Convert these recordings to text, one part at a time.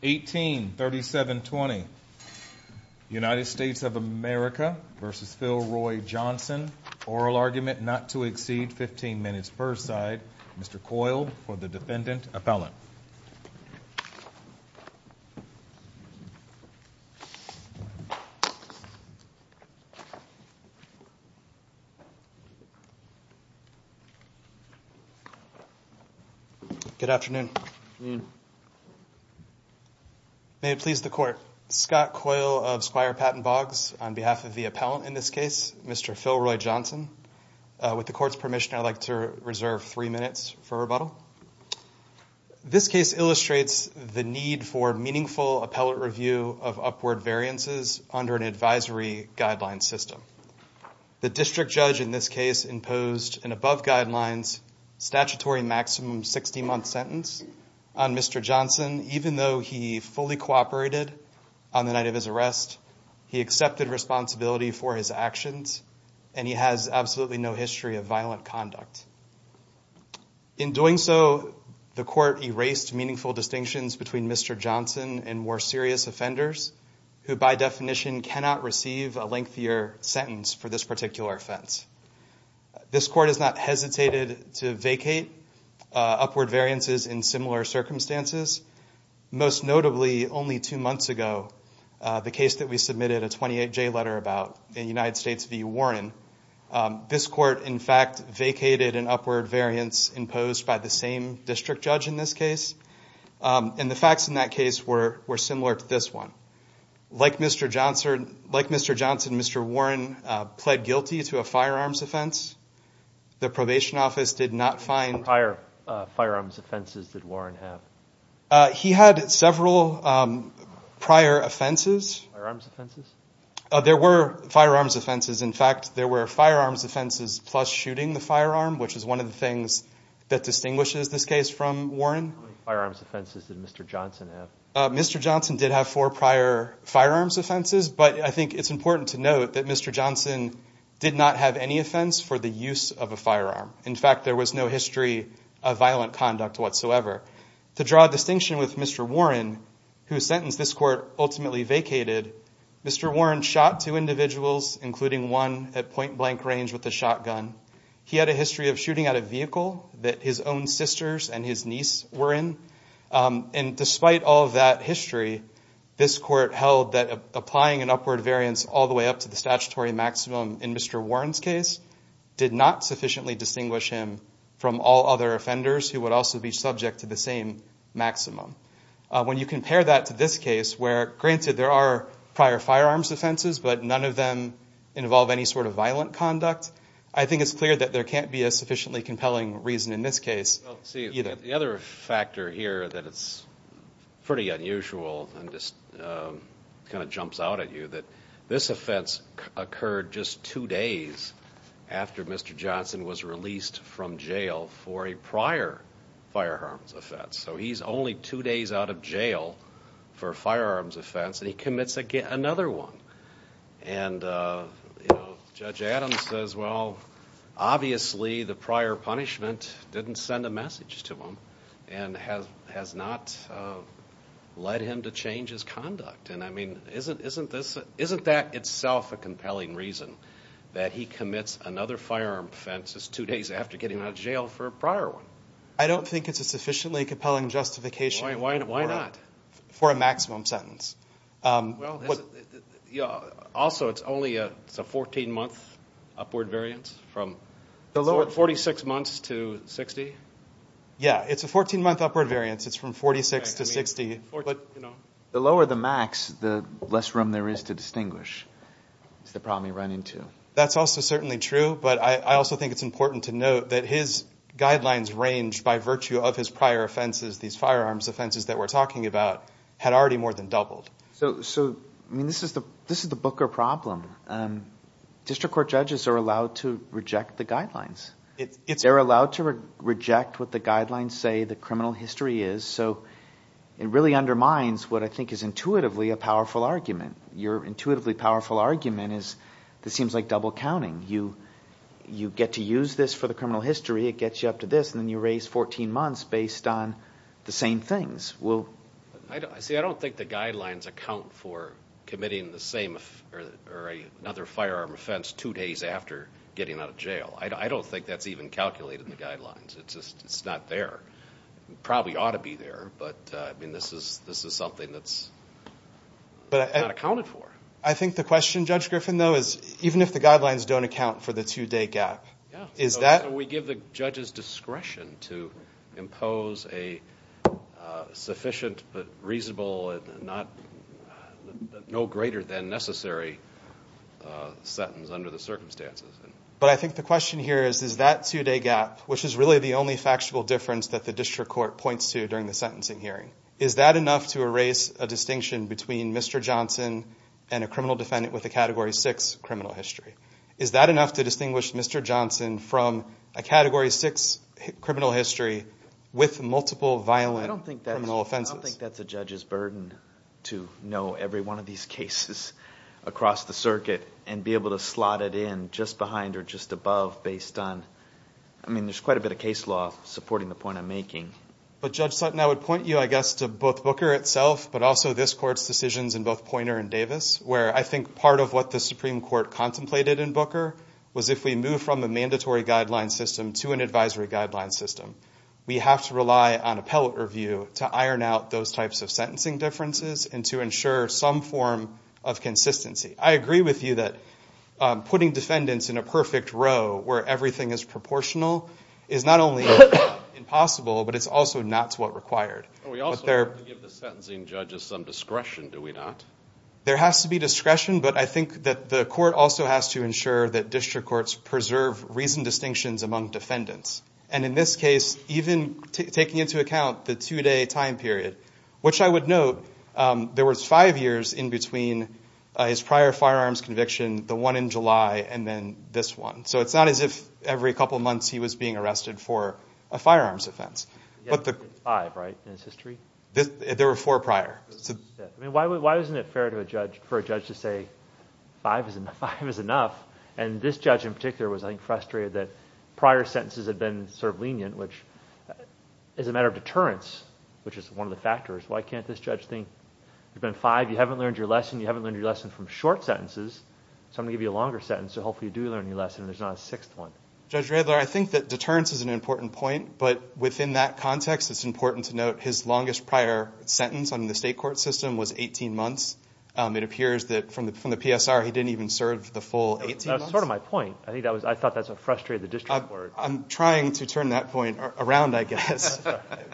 183720 United States of America v. Philroy Johnson Oral argument not to exceed 15 minutes per side Mr. Coyle for the defendant appellant Good afternoon. May it please the court Scott Coyle of Squire Patton Boggs on behalf of the appellant in this case Mr. Philroy Johnson. With the court's permission I'd like to reserve three minutes for rebuttal. This case illustrates the need for meaningful appellate review of upward variances under an advisory guideline system. The district judge in this case imposed an above guidelines statutory maximum 60 month sentence on Mr. Johnson even though he fully cooperated on the night of his arrest he accepted responsibility for his actions and he has absolutely no conduct. In doing so the court erased meaningful distinctions between Mr. Johnson and more serious offenders who by definition cannot receive a lengthier sentence for this particular offense. This court is not hesitated to vacate upward variances in similar circumstances most notably only two months ago the case that we submitted a 28 J letter about in United States v. Warren. This court in fact vacated an upward variance imposed by the same district judge in this case and the facts in that case were similar to this one. Like Mr. Johnson, Mr. Warren pled guilty to a firearms offense. The probation office did not find prior firearms offenses did Warren have. He had several prior offenses. There were firearms offenses in fact there were firearms offenses plus shooting the firearm which is one of the things that distinguishes this case from Warren. Mr. Johnson did have four prior firearms offenses but I think it's important to note that Mr. Johnson did not have any offense for the use of a firearm. In fact there was no history of violent conduct whatsoever. To draw a distinction with Mr. Warren whose sentence this court ultimately vacated, Mr. Warren shot two individuals including one at point-blank range with a shotgun. He had a history of shooting at a vehicle that his own sisters and his niece were in and despite all that history this court held that applying an upward variance all the way up to the statutory maximum in Mr. Warren's case did not sufficiently distinguish him from all other offenders who would also be subject to the same maximum. When you compare that to this case where granted there are prior firearms offenses but none of them involve any sort of violent conduct, I think it's clear that there can't be a sufficiently compelling reason in this case. The other factor here that it's pretty unusual and just kind of jumps out at you that this offense occurred just two days after Mr. Johnson was released from jail for a prior firearms offense. So he's only two days out of jail for a firearms offense and he commits another one and Judge Adams says well obviously the prior punishment didn't send a message to him and has not led him to change his conduct and I mean isn't that itself a compelling reason that he commits another firearm offense just two days after getting out of jail for a prior one? I don't think it's a sufficiently compelling justification for a maximum sentence. Also it's only a 14 month upward variance from 46 months to 60? Yeah it's a 14 month upward variance it's from 46 to 60. The lower the max the less room there is to distinguish is the problem you run into. That's also certainly true but I also think it's important to note that his offenses that we're talking about had already more than doubled. So I mean this is the this is the Booker problem. District Court judges are allowed to reject the guidelines. They're allowed to reject what the guidelines say the criminal history is so it really undermines what I think is intuitively a powerful argument. Your intuitively powerful argument is this seems like double counting. You get to use this for the criminal history it gets you up to this and then you raise 14 months based on the same things. See I don't think the guidelines account for committing the same or another firearm offense two days after getting out of jail. I don't think that's even calculated in the guidelines. It's just it's not there. It probably ought to be there but I mean this is this is something that's not accounted for. I think the question Judge Griffin though is even if the guidelines don't account for the two-day gap is that we give the judges discretion to impose a sufficient but reasonable and not no greater than necessary sentence under the circumstances. But I think the question here is is that two-day gap which is really the only factual difference that the District Court points to during the sentencing hearing. Is that enough to erase a distinction between Mr. Johnson and a criminal defendant with a category 6 criminal history? Is that enough to distinguish Mr. Johnson from a category 6 criminal history with multiple violent offenses? I don't think that's a judge's burden to know every one of these cases across the circuit and be able to slot it in just behind or just above based on I mean there's quite a bit of case law supporting the point I'm making. But Judge Sutton I would point you I guess to both Booker itself but also this court's decisions in both Poynter and Davis where I think part of what the Supreme Court contemplated in Booker was if we move from a mandatory guideline system to an advisory guideline system we have to rely on appellate review to iron out those types of sentencing differences and to ensure some form of consistency. I agree with you that putting defendants in a perfect row where everything is proportional is not only impossible but it's also not to what required. We also have to give the sentencing judges some discretion do we not? There has to be discretion but I think that the court also has to ensure that district courts preserve reasoned distinctions among defendants and in this case even taking into account the two-day time period which I would note there was five years in between his prior firearms conviction the one in July and then this one. So it's not as if every couple months he was being arrested for a firearms offense. Five right in his history? There were four prior. Why isn't it fair for a judge to say five is enough and this judge in particular was I think frustrated that prior sentences had been sort of lenient which is a matter of deterrence which is one of the factors why can't this judge think you've been five you haven't learned your lesson you haven't learned your lesson from short sentences so I'm gonna give you a longer sentence so hopefully you do learn your lesson there's not a sixth one. Judge Radler I think that deterrence is an important point but within that context it's important to note his longest prior sentence on the state court system was 18 months it appears that from the from the PSR he didn't even serve the full 18 months. That's sort of my point I think that was I thought that's a frustrated the district court. I'm trying to turn that point around I guess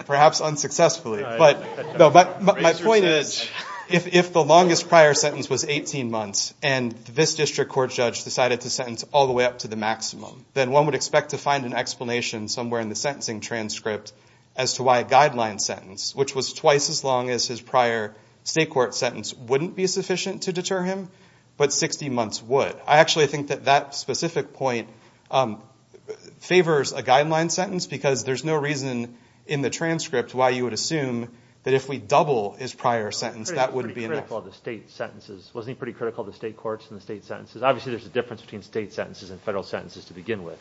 perhaps unsuccessfully but no but my point is if the longest prior sentence was 18 months and this district court judge decided to sentence all the way up to the maximum then one would expect to find an explanation somewhere in the sentencing transcript as to why a guideline sentence which was twice as long as his prior state court sentence wouldn't be sufficient to deter him but 60 months would. I actually think that that specific point favors a guideline sentence because there's no reason in the transcript why you would assume that if we double his prior sentence that wouldn't be enough. Wasn't he pretty critical of the state courts and the state sentences? Obviously there's a difference between state sentences and federal sentences to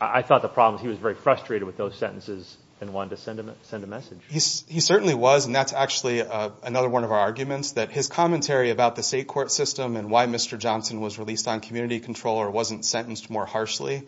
I thought the problem he was very frustrated with those sentences and wanted to send a message. He certainly was and that's actually another one of our arguments that his commentary about the state court system and why Mr. Johnson was released on community control or wasn't sentenced more harshly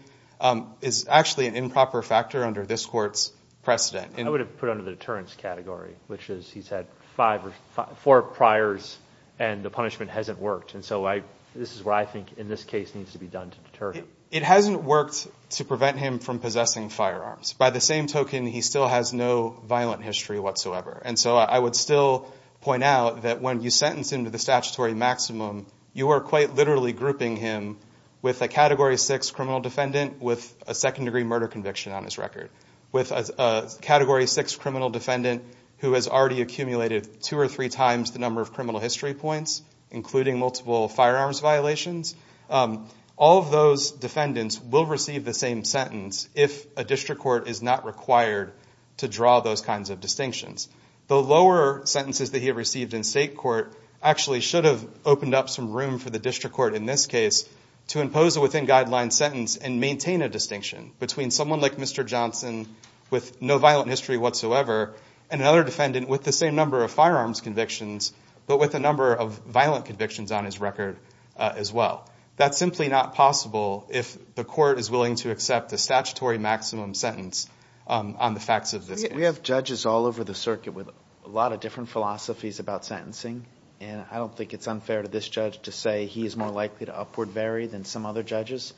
is actually an improper factor under this court's precedent. I would have put under the deterrence category which is he's had five or four priors and the punishment hasn't worked and so I this is where I think in this case needs to be done to deter him. It hasn't worked to prevent him from possessing firearms. By the same token he still has no violent history whatsoever and so I would still point out that when you sentence him to the statutory maximum you are quite literally grouping him with a category six criminal defendant with a second-degree murder conviction on his record. With a category six criminal defendant who has already accumulated two or three times the number of criminal history points including multiple firearms violations, all of those defendants will receive the same sentence if a district court is not required to draw those kinds of distinctions. The lower sentences that he received in state court actually should have opened up some room for the district court in this case to impose a within guidelines sentence and maintain a distinction between someone like Mr. Johnson with no violent history whatsoever and another defendant with the same number of firearms convictions but with a number of violent convictions on his record as well. That's simply not possible if the court is willing to accept the statutory maximum sentence on the facts of this case. We have judges all over the circuit with a lot of different philosophies about sentencing and I don't think it's unfair to this judge to say he is more likely to upward vary than some other judges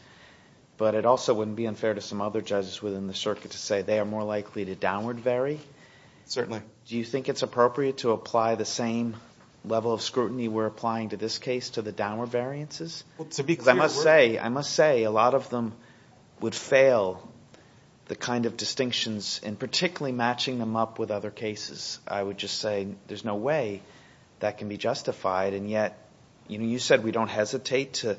but it also wouldn't be unfair to some other judges within the circuit to say they are more likely to downward vary. Do you think it's appropriate to apply the same level of scrutiny we're applying to this case to the downward variances? I must say a lot of them would fail the kind of distinctions and particularly matching them up with other cases. I would just say there's no way that can be justified and yet you said we don't hesitate to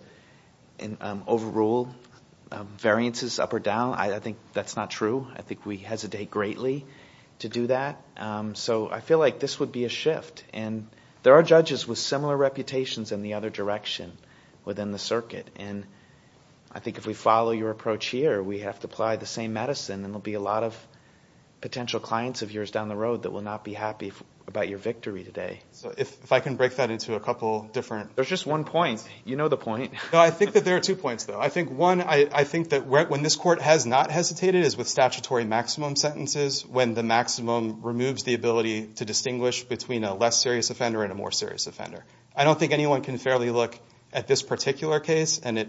overrule variances up or down. I think that's not true. I think it's appropriate to do that. I feel like this would be a shift and there are judges with similar reputations in the other direction within the circuit and I think if we follow your approach here we have to apply the same medicine and there will be a lot of potential clients of yours down the road that will not be happy about your victory today. If I can break that into a couple different... There's just one point. You know the point. I think that there are two points though. I think one, I think that when this court has not removed sentences when the maximum removes the ability to distinguish between a less serious offender and a more serious offender. I don't think anyone can fairly look at this particular case and it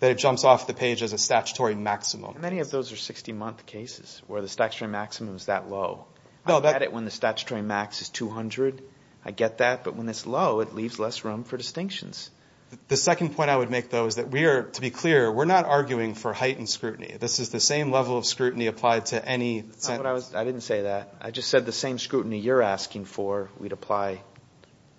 that it jumps off the page as a statutory maximum. Many of those are 60-month cases where the statutory maximum is that low. I get it when the statutory max is 200. I get that but when it's low it leaves less room for distinctions. The second point I would make though is that we are to be clear we're not arguing for any... I didn't say that. I just said the same scrutiny you're asking for we'd apply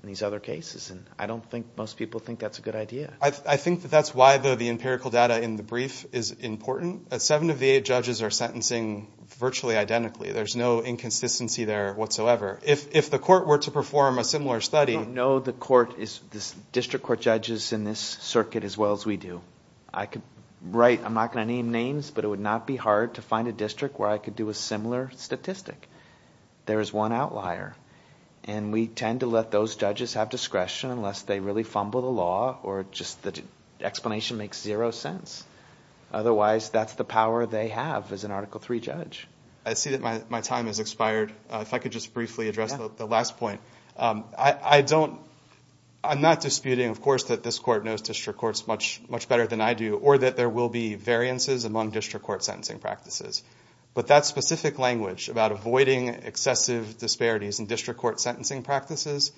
in these other cases and I don't think most people think that's a good idea. I think that that's why though the empirical data in the brief is important. Seven of the eight judges are sentencing virtually identically. There's no inconsistency there whatsoever. If the court were to perform a similar study... No the court is this district court judges in this circuit as well as we do. I could write I'm not going to name names but it would not be hard to find a could do a similar statistic. There is one outlier and we tend to let those judges have discretion unless they really fumble the law or just the explanation makes zero sense. Otherwise that's the power they have as an Article 3 judge. I see that my time has expired if I could just briefly address the last point. I don't... I'm not disputing of course that this court knows district courts much much better than I do or that there will be variances among district court sentencing practices. But that specific language about avoiding excessive disparities in district court sentencing practices,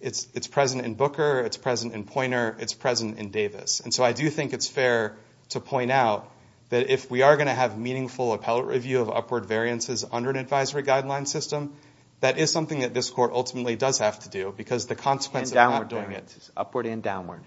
it's present in Booker, it's present in Poynter, it's present in Davis. And so I do think it's fair to point out that if we are going to have meaningful appellate review of upward variances under an advisory guideline system, that is something that this court ultimately does have to do because the consequence of not doing it... Upward and downward.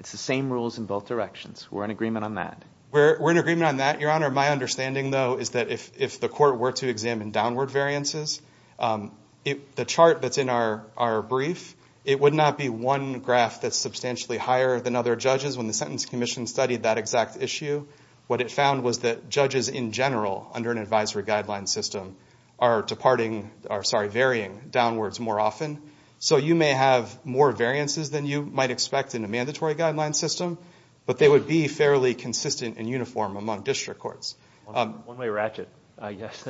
It's the same rules in both directions. We're in agreement on that. We're in agreement on that, Your Honor. My understanding though is that if the court were to examine downward variances, the chart that's in our brief, it would not be one graph that's substantially higher than other judges when the Sentence Commission studied that exact issue. What it found was that judges in general under an advisory guideline system are departing... are sorry varying downwards more often. So you may have more variances than you might expect in a mandatory guideline system, but they would be fairly consistent and uniform among district courts. One-way ratchet, I guess.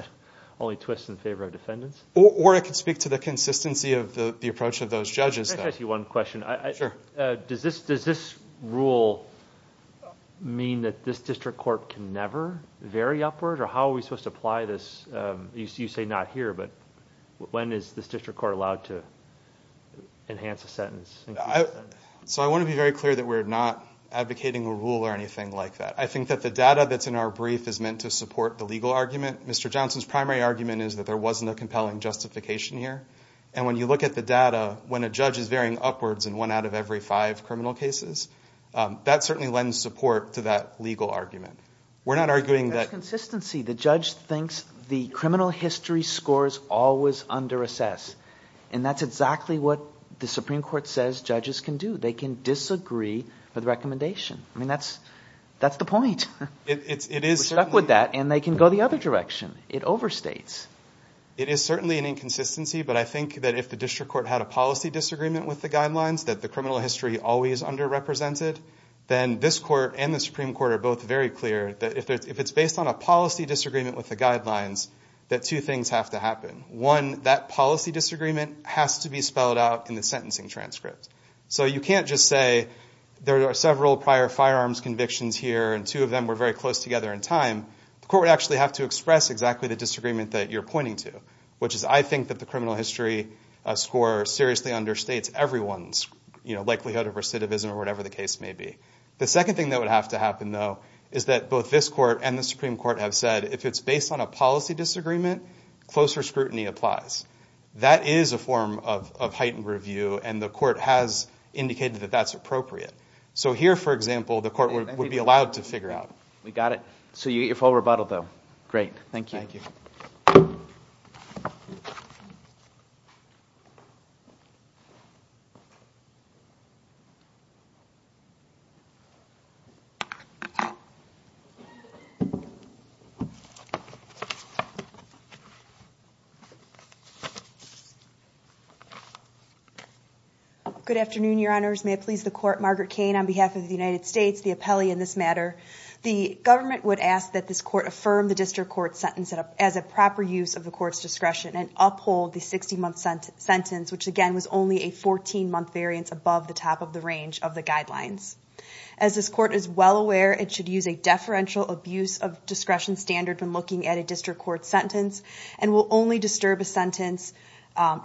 Only twists in favor of defendants. Or it could speak to the consistency of the approach of those judges. Let me ask you one question. Sure. Does this rule mean that this district court can never vary upward? Or how are we supposed to apply this? You say not here, but when is this district court allowed to enhance a sentence? So I want to be very clear that we're not advocating a rule or anything like that. I think that the data that's in our brief is meant to support the legal argument. Mr. Johnson's primary argument is that there wasn't a compelling justification here. And when you look at the data, when a judge is varying upwards in one out of every five criminal cases, that certainly lends support to that legal argument. We're not arguing that... That's consistency. The judge thinks the criminal history scores always under-assess. And that's exactly what the Supreme Court says judges can do. They can disagree with the recommendation. I mean, that's the point. We're stuck with that, and they can go the other direction. It overstates. It is certainly an inconsistency, but I think that if the district court had a policy disagreement with the guidelines, that the criminal history always under-represented, then this court and the Supreme Court are both very clear that if it's based on a policy disagreement with the guidelines, that two things have to happen. One, that policy disagreement has to be spelled out in the sentencing transcript. So you can't just say there are several prior firearms convictions here, and two of them were very close together in time. The court would actually have to express exactly the disagreement that you're pointing to, which is I think that the criminal history score seriously understates everyone's likelihood of recidivism or whatever the case may be. The second thing that would have to happen, though, is that both this court and the Supreme Court have said if it's based on a policy disagreement, closer scrutiny applies. That is a form of heightened review, and the court has indicated that that's appropriate. So here, for example, the court would be allowed to figure out. We got it. So you get your full rebuttal, though. Great. Thank you. Good afternoon, Your Honors. May it please the Court. Margaret Cain on behalf of the United States, the appellee in this matter. The government would ask that this court affirm the district court sentence as a proper use of the court's discretion and uphold the 60-month sentence, which again was only a 14-month variance above the top of the range of the guidelines. As this court is well aware, it should use a deferential abuse of discretion standard when looking at a district court sentence, and will only disturb a sentence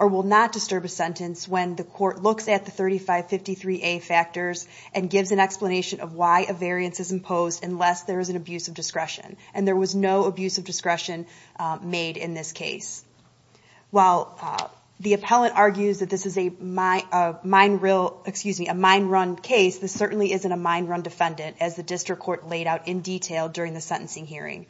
or will not disturb a sentence when the court looks at the 3553A factors and gives an explanation of why a variance is imposed unless there is an abuse of discretion. And there was no abuse of discretion made in this case. While the appellant argues that this is a mine run case, this certainly isn't a mine run defendant, as the district court laid out in detail during the sentencing hearing.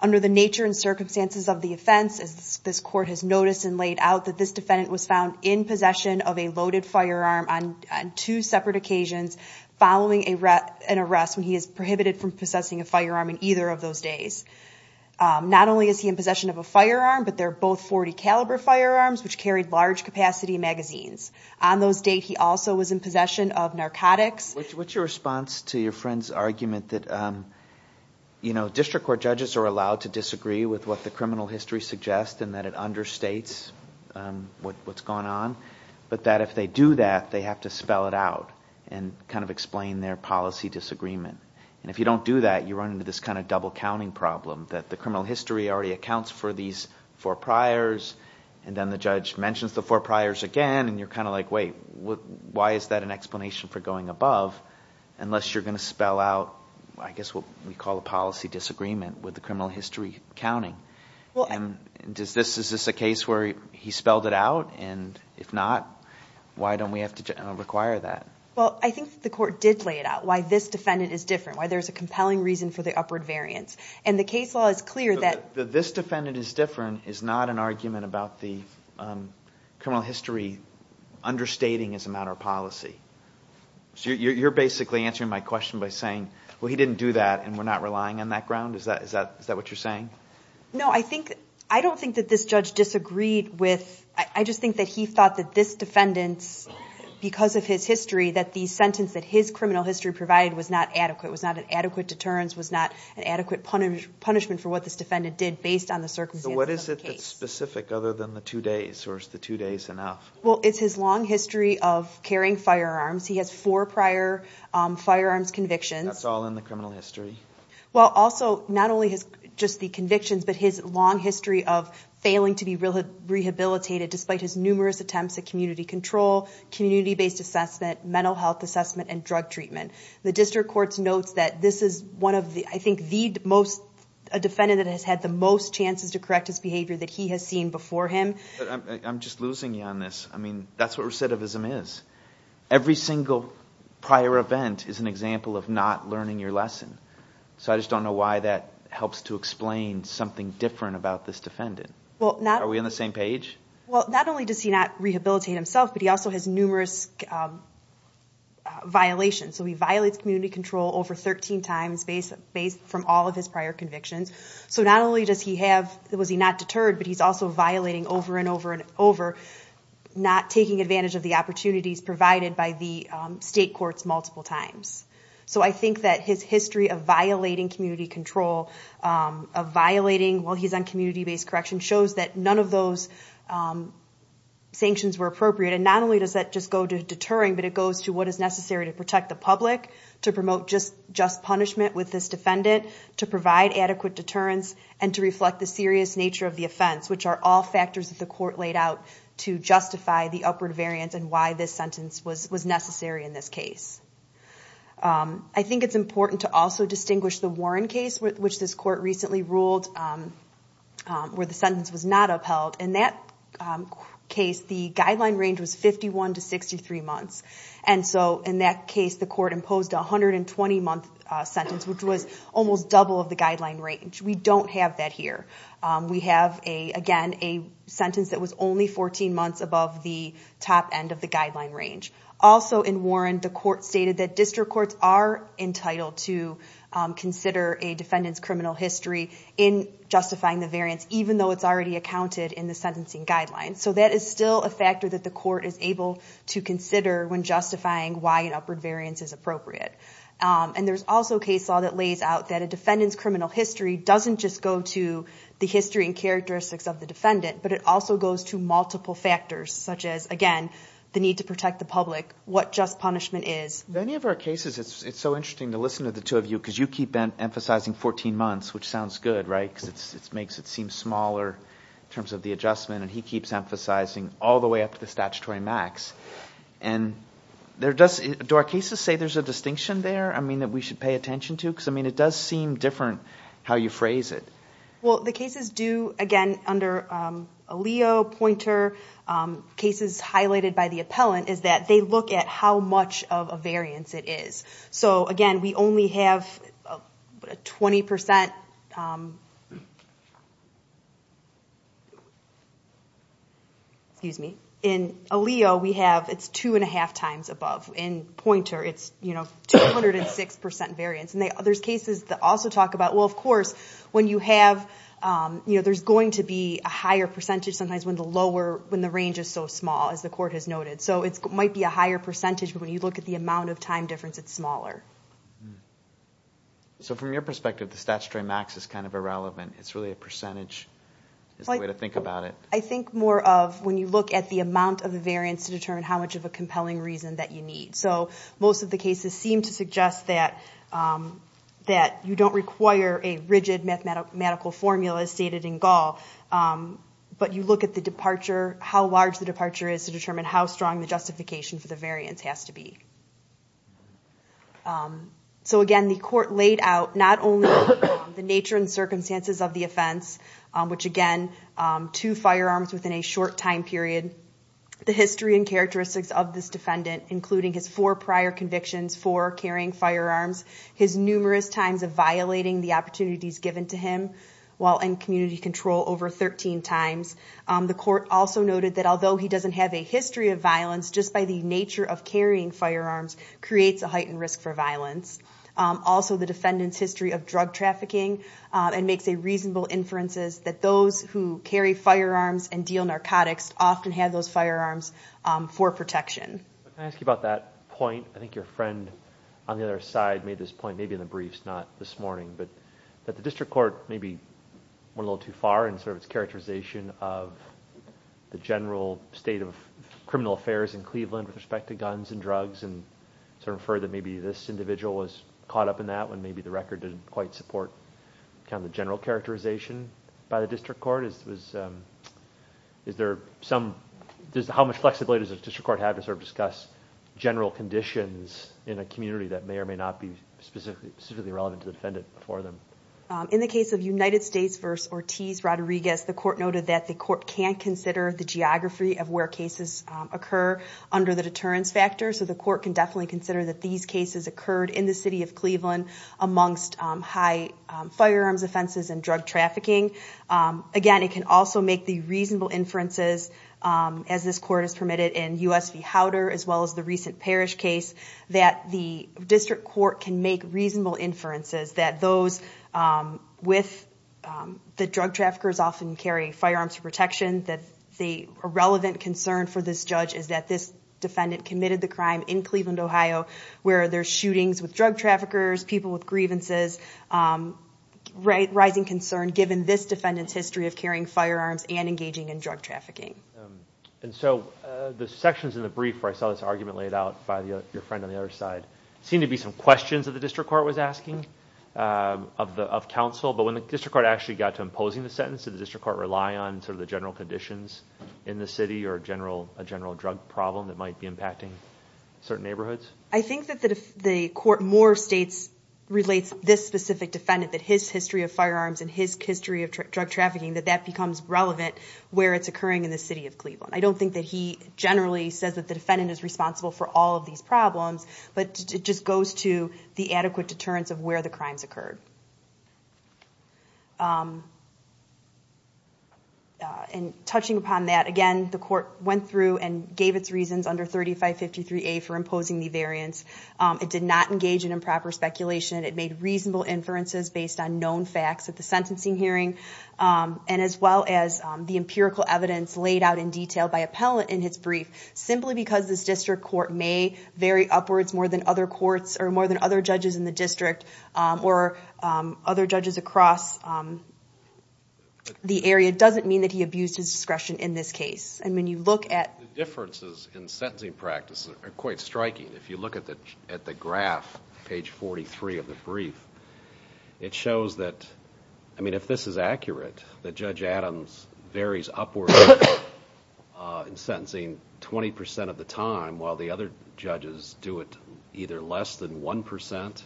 Under the nature and circumstances of the offense, as this court has noticed and laid out, that this defendant was found in possession of a loaded firearm on two separate occasions following an arrest when he is prohibited from possessing a firearm in either of those days. Not only is he in possession of a firearm, but they're both .40 caliber firearms, which carried large-capacity magazines. On those dates, he also was in possession of narcotics. What's your response to your friend's argument that district court judges are allowed to disagree with what the criminal history suggests and that it understates what's going on, but that if they do that, they have to spell it out and kind of explain their policy disagreement. And if you don't do that, you run into this kind of double counting problem that the criminal history already accounts for these four priors, and then the judge mentions the four priors again, and you're kind of like, wait, why is that an explanation for going above unless you're going to spell out, I guess, what we call a policy disagreement with the criminal history counting. Is this a case where he spelled it out, and if not, why don't we have to require that? Well, I think the court did lay it out, why this defendant is different, why there's a compelling reason for the upward variance. And the case law is clear that this defendant is different is not an argument about the criminal history understating as a matter of policy. So you're basically answering my question by saying, well, he didn't do that and we're not relying on that ground? Is that what you're saying? No, I don't think that this judge disagreed with, I just think that he thought that this defendant, because of his history, that the sentence that his criminal history provided was not adequate, was not an adequate deterrence, was not an adequate punishment for what this defendant did based on the circumstances of the case. So what is it that's specific other than the two days, or is the two days specific other than the two days of the firearms? He has four prior firearms convictions. That's all in the criminal history? Well, also, not only just the convictions, but his long history of failing to be rehabilitated despite his numerous attempts at community control, community-based assessment, mental health assessment, and drug treatment. The district courts notes that this is one of the, I think, the most, a defendant that has had the most chances to correct his behavior that he has seen before him. I'm just losing you on this. I mean, that's what recidivism is. Every single prior event is an example of not learning your lesson. So I just don't know why that helps to explain something different about this defendant. Are we on the same page? Well, not only does he not rehabilitate himself, but he also has numerous violations. So he violates community control over 13 times based from all of his prior convictions. So not only does he have, was he not deterred, but he's also violating over and over and over, not taking advantage of the opportunities provided by the state courts multiple times. So I think that his history of violating community control, of violating while he's on community-based correction, shows that none of those sanctions were appropriate. And not only does that just go to deterring, but it goes to what is necessary to protect the public, to promote just punishment with this defendant, to provide adequate deterrence, and to reflect the serious nature of the offense, which are all factors that the court laid out to justify the upward variance and why this sentence was necessary in this case. I think it's important to also distinguish the Warren case, which this court recently ruled where the sentence was not upheld. In that case, the guideline range was 51 to 63 months. And so in that case, the court imposed a 120-month sentence, which was almost a sentence that was only 14 months above the top end of the guideline range. Also in Warren, the court stated that district courts are entitled to consider a defendant's criminal history in justifying the variance, even though it's already accounted in the sentencing guidelines. So that is still a factor that the court is able to consider when justifying why an upward variance is appropriate. And there's also a case law that lays out that a defendant's criminal history doesn't just go to the history and characteristics of the offense. It also goes to multiple factors, such as, again, the need to protect the public, what just punishment is. In many of our cases, it's so interesting to listen to the two of you, because you keep emphasizing 14 months, which sounds good, right? Because it makes it seem smaller in terms of the adjustment, and he keeps emphasizing all the way up to the statutory max. And do our cases say there's a distinction there, I mean, that we should pay attention to? Because, I mean, it does seem different how you phrase it. Well, the cases do, again, under ALEO, Poynter, cases highlighted by the appellant is that they look at how much of a variance it is. So, again, we only have a 20%... Excuse me. In ALEO, we have, it's two and a half times above. In Poynter, it's, you know, 206% variance. And there's cases that also talk about, well, of course, when you have, you know, there's going to be a higher percentage sometimes when the lower, when the range is so small, as the court has noted. So it might be a higher percentage, but when you look at the amount of time difference, it's smaller. So from your perspective, the statutory max is kind of irrelevant. It's really a percentage, is the way to think about it. I think more of when you look at the amount of the variance to determine how much of a compelling reason that you need. So most of the cases seem to a rigid mathematical formula stated in Gaul, but you look at the departure, how large the departure is to determine how strong the justification for the variance has to be. So again, the court laid out not only the nature and circumstances of the offense, which again, two firearms within a short time period, the history and characteristics of this defendant, including his four prior convictions for carrying firearms, his numerous times of violating the opportunities given to him while in community control over 13 times. The court also noted that although he doesn't have a history of violence, just by the nature of carrying firearms creates a heightened risk for violence. Also the defendant's history of drug trafficking and makes a reasonable inferences that those who carry firearms and deal narcotics often have those firearms for protection. Can I ask you about that point? I think your friend on the other side made this not this morning, but that the district court maybe went a little too far in sort of its characterization of the general state of criminal affairs in Cleveland with respect to guns and drugs and sort of further maybe this individual was caught up in that when maybe the record didn't quite support kind of the general characterization by the district court. Is there some, just how much flexibility does the district court have to sort of discuss general conditions in a community that may or may not be specifically relevant to the defendant before them? In the case of United States v. Ortiz-Rodriguez, the court noted that the court can consider the geography of where cases occur under the deterrence factor. So the court can definitely consider that these cases occurred in the city of Cleveland amongst high firearms offenses and drug trafficking. Again, it can also make the reasonable inferences, as this court has permitted in US v. Howder, as well as the recent Parrish case, that the district court can make reasonable inferences that those with the drug traffickers often carry firearms for protection, that a relevant concern for this judge is that this defendant committed the crime in Cleveland, Ohio, where there's shootings with drug traffickers, people with grievances, a rising concern given this defendant's history of carrying firearms and engaging in drug trafficking. And so the sections in the brief where I saw this argument laid out by your friend on the other side seemed to be some questions that the district court was asking of counsel, but when the district court actually got to imposing the sentence, did the district court rely on sort of the general conditions in the city or a general drug problem that might be impacting certain neighborhoods? I think that if the court more states relates this specific defendant, that his history of firearms and his history of drug trafficking, that that becomes relevant where it's occurring in the city of Cleveland. I don't think that he generally says that the defendant is responsible for all of these problems, but it just goes to the adequate deterrence of where the crimes occurred. And touching upon that, again, the court went through and gave its reasons under 3553A for imposing the variance. It did not engage in improper speculation. It made reasonable inferences based on known facts at the sentencing hearing, and as well as the empirical evidence laid out in detail by very upwards, more than other courts or more than other judges in the district or other judges across the area, doesn't mean that he abused his discretion in this case. And when you look at... The differences in sentencing practice are quite striking. If you look at the at the graph, page 43 of the brief, it shows that, I mean, if this is accurate, that Judge Adams varies upward in sentencing 20% of the time, while the other judges do it either less than 1%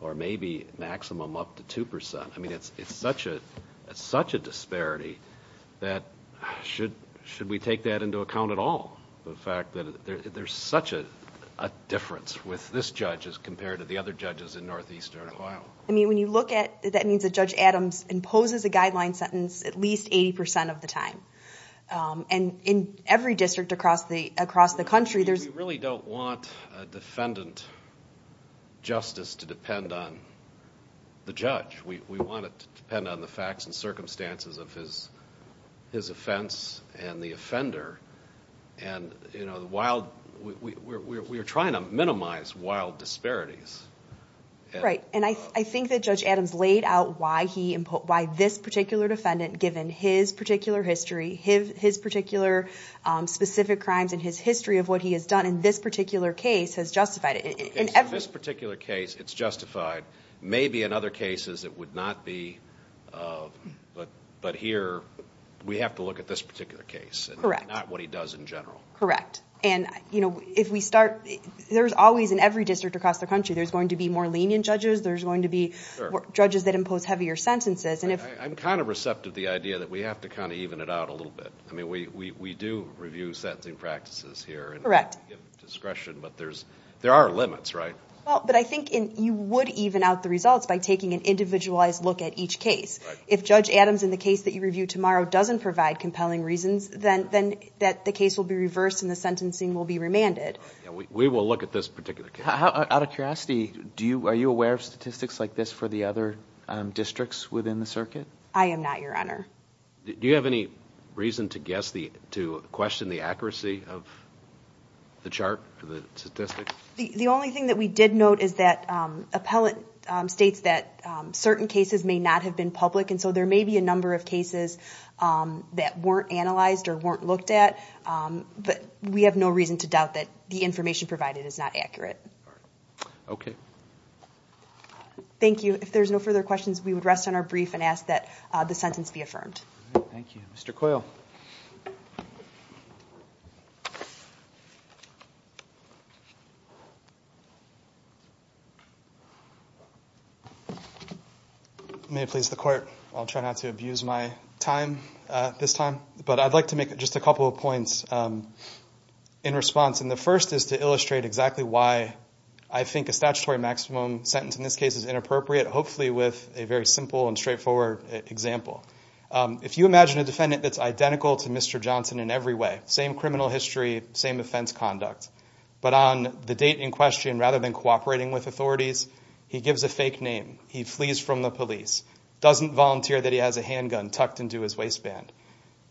or maybe maximum up to 2%. I mean, it's such a disparity that, should we take that into account at all? The fact that there's such a difference with this judge as compared to the other judges in Northeastern Ohio. I mean, when you look at... That means that Judge Adams imposes a guideline sentence at least 80% of the time across the country. We really don't want a defendant justice to depend on the judge. We want it to depend on the facts and circumstances of his offense and the offender. We're trying to minimize wild disparities. Right, and I think that Judge Adams laid out why this particular defendant, given his particular history, his particular specific crimes, and his history of what he has done in this particular case, has justified it. In this particular case, it's justified. Maybe in other cases it would not be, but here we have to look at this particular case and not what he does in general. Correct, and you know, if we start... There's always, in every district across the country, there's going to be more lenient judges. There's going to be judges that impose heavier sentences. I'm kind of receptive to the idea that we have to kind of even it out a little bit. I mean, we do review sentencing practices here. Correct. Discretion, but there are limits, right? Well, but I think you would even out the results by taking an individualized look at each case. If Judge Adams, in the case that you review tomorrow, doesn't provide compelling reasons, then the case will be reversed and the sentencing will be remanded. We will look at this particular case. Out of curiosity, are you aware of statistics like this for the other districts within the circuit? I am not, Your Honor. Do you have any reason to guess, to question the accuracy of the chart, the statistics? The only thing that we did note is that appellate states that certain cases may not have been public, and so there may be a number of cases that weren't analyzed or weren't looked at, but we have no reason to doubt that the information provided is not accurate. Okay. Thank you. If there's no further questions, we would rest on our brief and ask that the sentence be affirmed. Thank you. Mr. Coyle. May it please the Court, I'll try not to abuse my time this time, but I'd like to make just a couple of points in response. The first is to illustrate exactly why I think a statutory maximum sentence in this case is inappropriate, hopefully with a very simple and straightforward example. If you imagine a defendant that's identical to Mr. Johnson in every way, same criminal history, same offense conduct, but on the date in question, rather than cooperating with authorities, he gives a fake name, he flees from the police, doesn't volunteer that he has a handgun tucked into his waistband.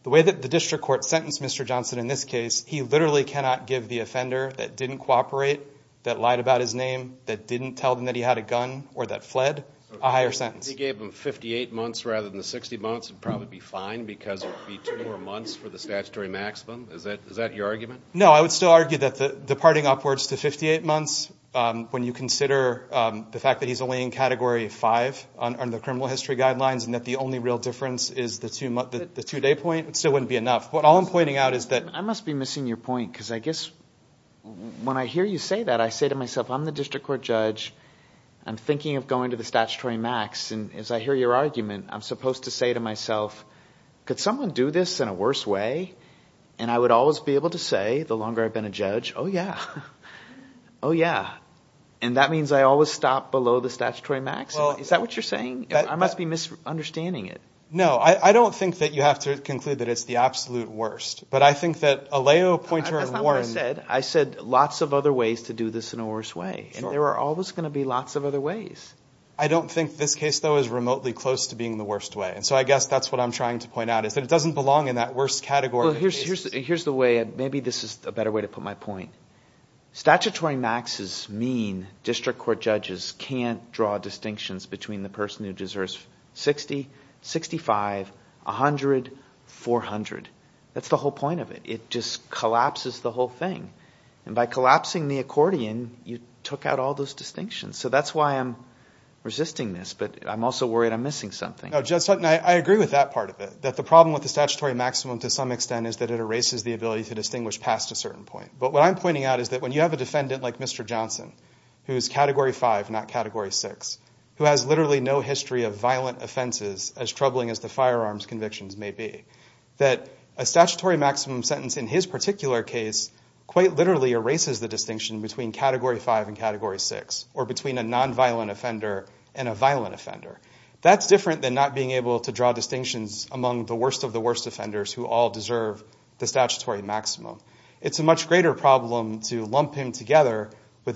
The way that the district court sentenced Mr. Johnson in this case, he literally cannot give the offender that didn't cooperate, that lied about his name, that didn't tell them that he had a gun, or that fled, a higher sentence. He gave him 58 months rather than the 60 months would probably be fine because it would be two more months for the statutory maximum. Is that your argument? No, I would still argue that the departing upwards to 58 months, when you consider the fact that he's only in Category 5 on the criminal history guidelines, and that the only real difference is the two-day point, it still wouldn't be enough. But all I'm pointing out is that... I must be missing your point because I guess when I hear you say that, I say to myself, I'm the district court judge, I'm thinking of going to the statutory max, and as I hear your argument, I'm supposed to say to myself, could someone do this in a worse way? And I would always be able to say, the longer I've been a judge, oh yeah, oh yeah. And that means I always stop below the statutory max? Is that what you're saying? I must be misunderstanding it. No, I don't think that you have to conclude that it's the absolute worst, but I think that Alejo Pointer and Warren... That's not what I said. I said lots of other ways to do this in a worse way, and there are always going to be lots of other ways. I don't think this case, though, is remotely close to being the worst way, and so I guess that's what I'm trying to point out, is that it doesn't belong in that worst category. Well, here's the way, maybe this is a better way to put my point. Statutory maxes mean district court judges can't draw distinctions between the person who deserves 60, 65, 100, 400. That's the whole point of it. It just collapses the whole thing, and by collapsing the accordion, you took out all those distinctions. So that's why I'm resisting this, but I'm also worried I'm missing something. No, Judge Sutton, I agree with that part of it, that the problem with the statutory maximum to some extent is that it erases the ability to distinguish past a certain point, but what I'm pointing out is that when you have a defendant like Mr. Johnson, whose Category 5, not Category 6, who has literally no history of violent offenses as troubling as the firearms convictions may be, that a statutory maximum sentence in his particular case quite literally erases the distinction between Category 5 and Category 6, or between a nonviolent offender and a violent offender. That's different than not being able to draw distinctions among the worst of the worst offenders who all deserve the statutory maximum. It's a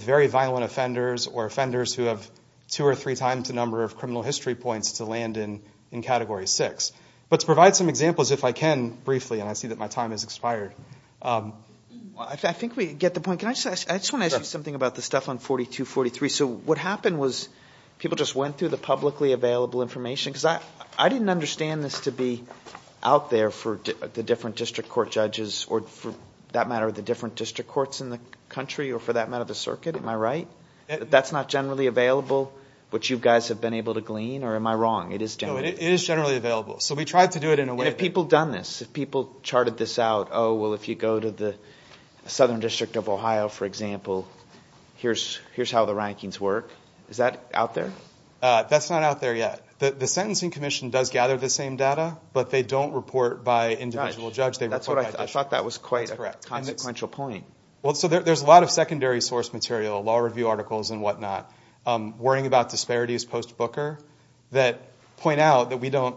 very violent offenders, or offenders who have two or three times the number of criminal history points to land in Category 6. But to provide some examples, if I can briefly, and I see that my time has expired. I think we get the point. I just want to ask you something about the stuff on 4243. So what happened was people just went through the publicly available information, because I didn't understand this to be out there for the different district court judges, or for that matter, the different district courts in the circuit, am I right? That's not generally available, which you guys have been able to glean, or am I wrong? It is generally available. So we tried to do it in a way... And if people have done this, if people charted this out, oh, well, if you go to the Southern District of Ohio, for example, here's how the rankings work. Is that out there? That's not out there yet. The Sentencing Commission does gather the same data, but they don't report by individual judge. I thought that was quite a consequential point. There's a lot of secondary source material, law review articles and whatnot, worrying about disparities post-Booker, that point out that we don't...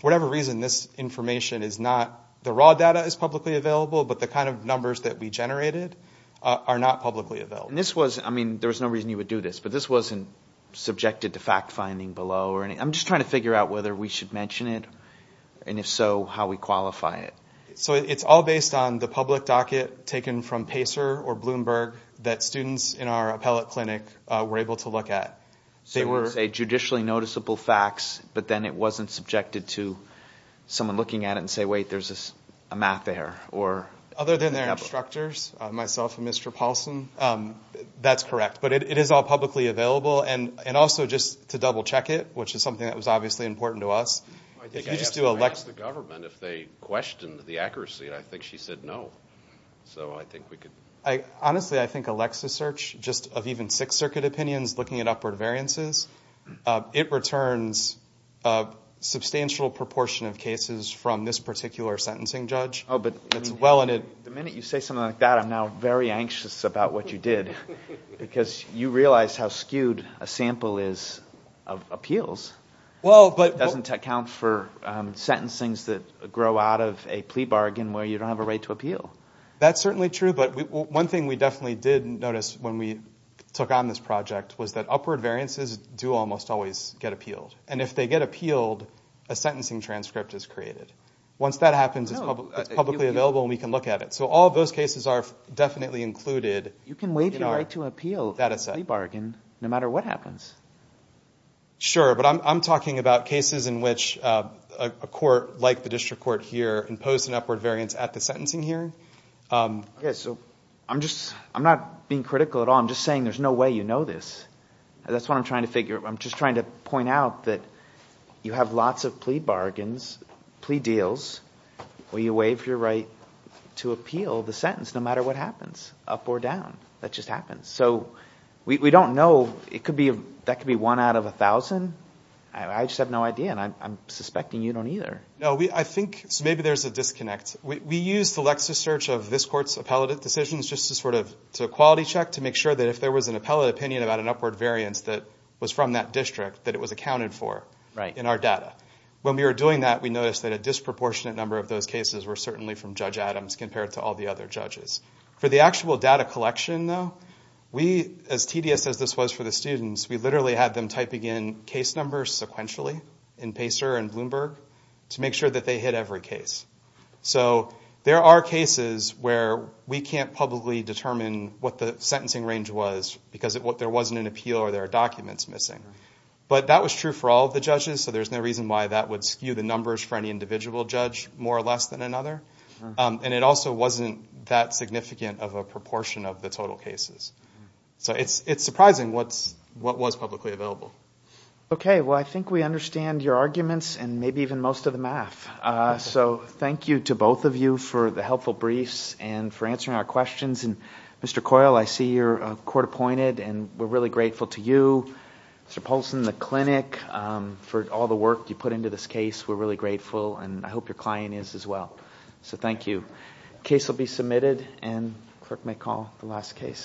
whatever reason, this information is not... the raw data is publicly available, but the kind of numbers that we generated are not publicly available. This was... I mean, there was no reason you would do this, but this wasn't subjected to fact-finding below. I'm just trying to figure out whether we should mention it, and if so, how we qualify it. So, it's all based on the public docket taken from Pacer or Bloomberg that students in our appellate clinic were able to look at. They were, say, judicially noticeable facts, but then it wasn't subjected to someone looking at it and saying, wait, there's a map there, or... Other than their instructors, myself and Mr. Paulson, that's correct. But it is all publicly available, and also just to double-check it, which is something that was obviously important to us. If you just do a... I think I asked the government if they questioned the accuracy, and I think she said no. So, I think we could... Honestly, I think Alexa search, just of even Sixth Circuit opinions, looking at upward variances, it returns a substantial proportion of cases from this particular sentencing judge. Oh, but... It's well in... The minute you say something like that, I'm now very anxious about what you did, because you realize how skewed a sample is of appeals. Well, but... It doesn't account for sentencings that grow out of a plea bargain, where you don't have a right to appeal. That's certainly true, but one thing we definitely did notice when we took on this project was that upward variances do almost always get appealed. And if they get appealed, a sentencing transcript is created. Once that happens, it's publicly available, and we can look at it. So, all of those cases are definitely included in our... You can waive your right to appeal...... dataset.... a plea bargain, no matter what happens. Sure, but I'm talking about cases in which a court like the district court here imposed an upward variance at the sentencing hearing. Okay, so I'm just... I'm not being critical at all. I'm just saying there's no way you know this. That's what I'm trying to figure. I'm just trying to point out that you have lots of plea bargains, plea deals, where you waive your right to appeal the sentence, no matter what happens, up or down. That could be one out of a thousand. I just have no idea, and I'm suspecting you don't either. No, I think... maybe there's a disconnect. We used the Lexis search of this court's appellate decisions just to sort of... to quality check, to make sure that if there was an appellate opinion about an upward variance that was from that district, that it was accounted for in our data. When we were doing that, we noticed that a disproportionate number of those cases were certainly from Judge Adams compared to all the other judges. For the actual data collection, though, we... as tedious as this was for the judges, we actually had them typing in case numbers sequentially in Pacer and Bloomberg to make sure that they hit every case. So there are cases where we can't publicly determine what the sentencing range was because there wasn't an appeal or there are documents missing. But that was true for all of the judges, so there's no reason why that would skew the numbers for any individual judge more or less than another. And it also wasn't that significant of a proportion of the total cases. So it's surprising what was publicly available. Okay. Well, I think we understand your arguments and maybe even most of the math. So thank you to both of you for the helpful briefs and for answering our questions. Mr. Coyle, I see you're court appointed and we're really grateful to you. Mr. Polson, the clinic, for all the work you put into this case. We're really grateful and I hope your client is as well. So thank you. Case will be submitted and the clerk may call the last case.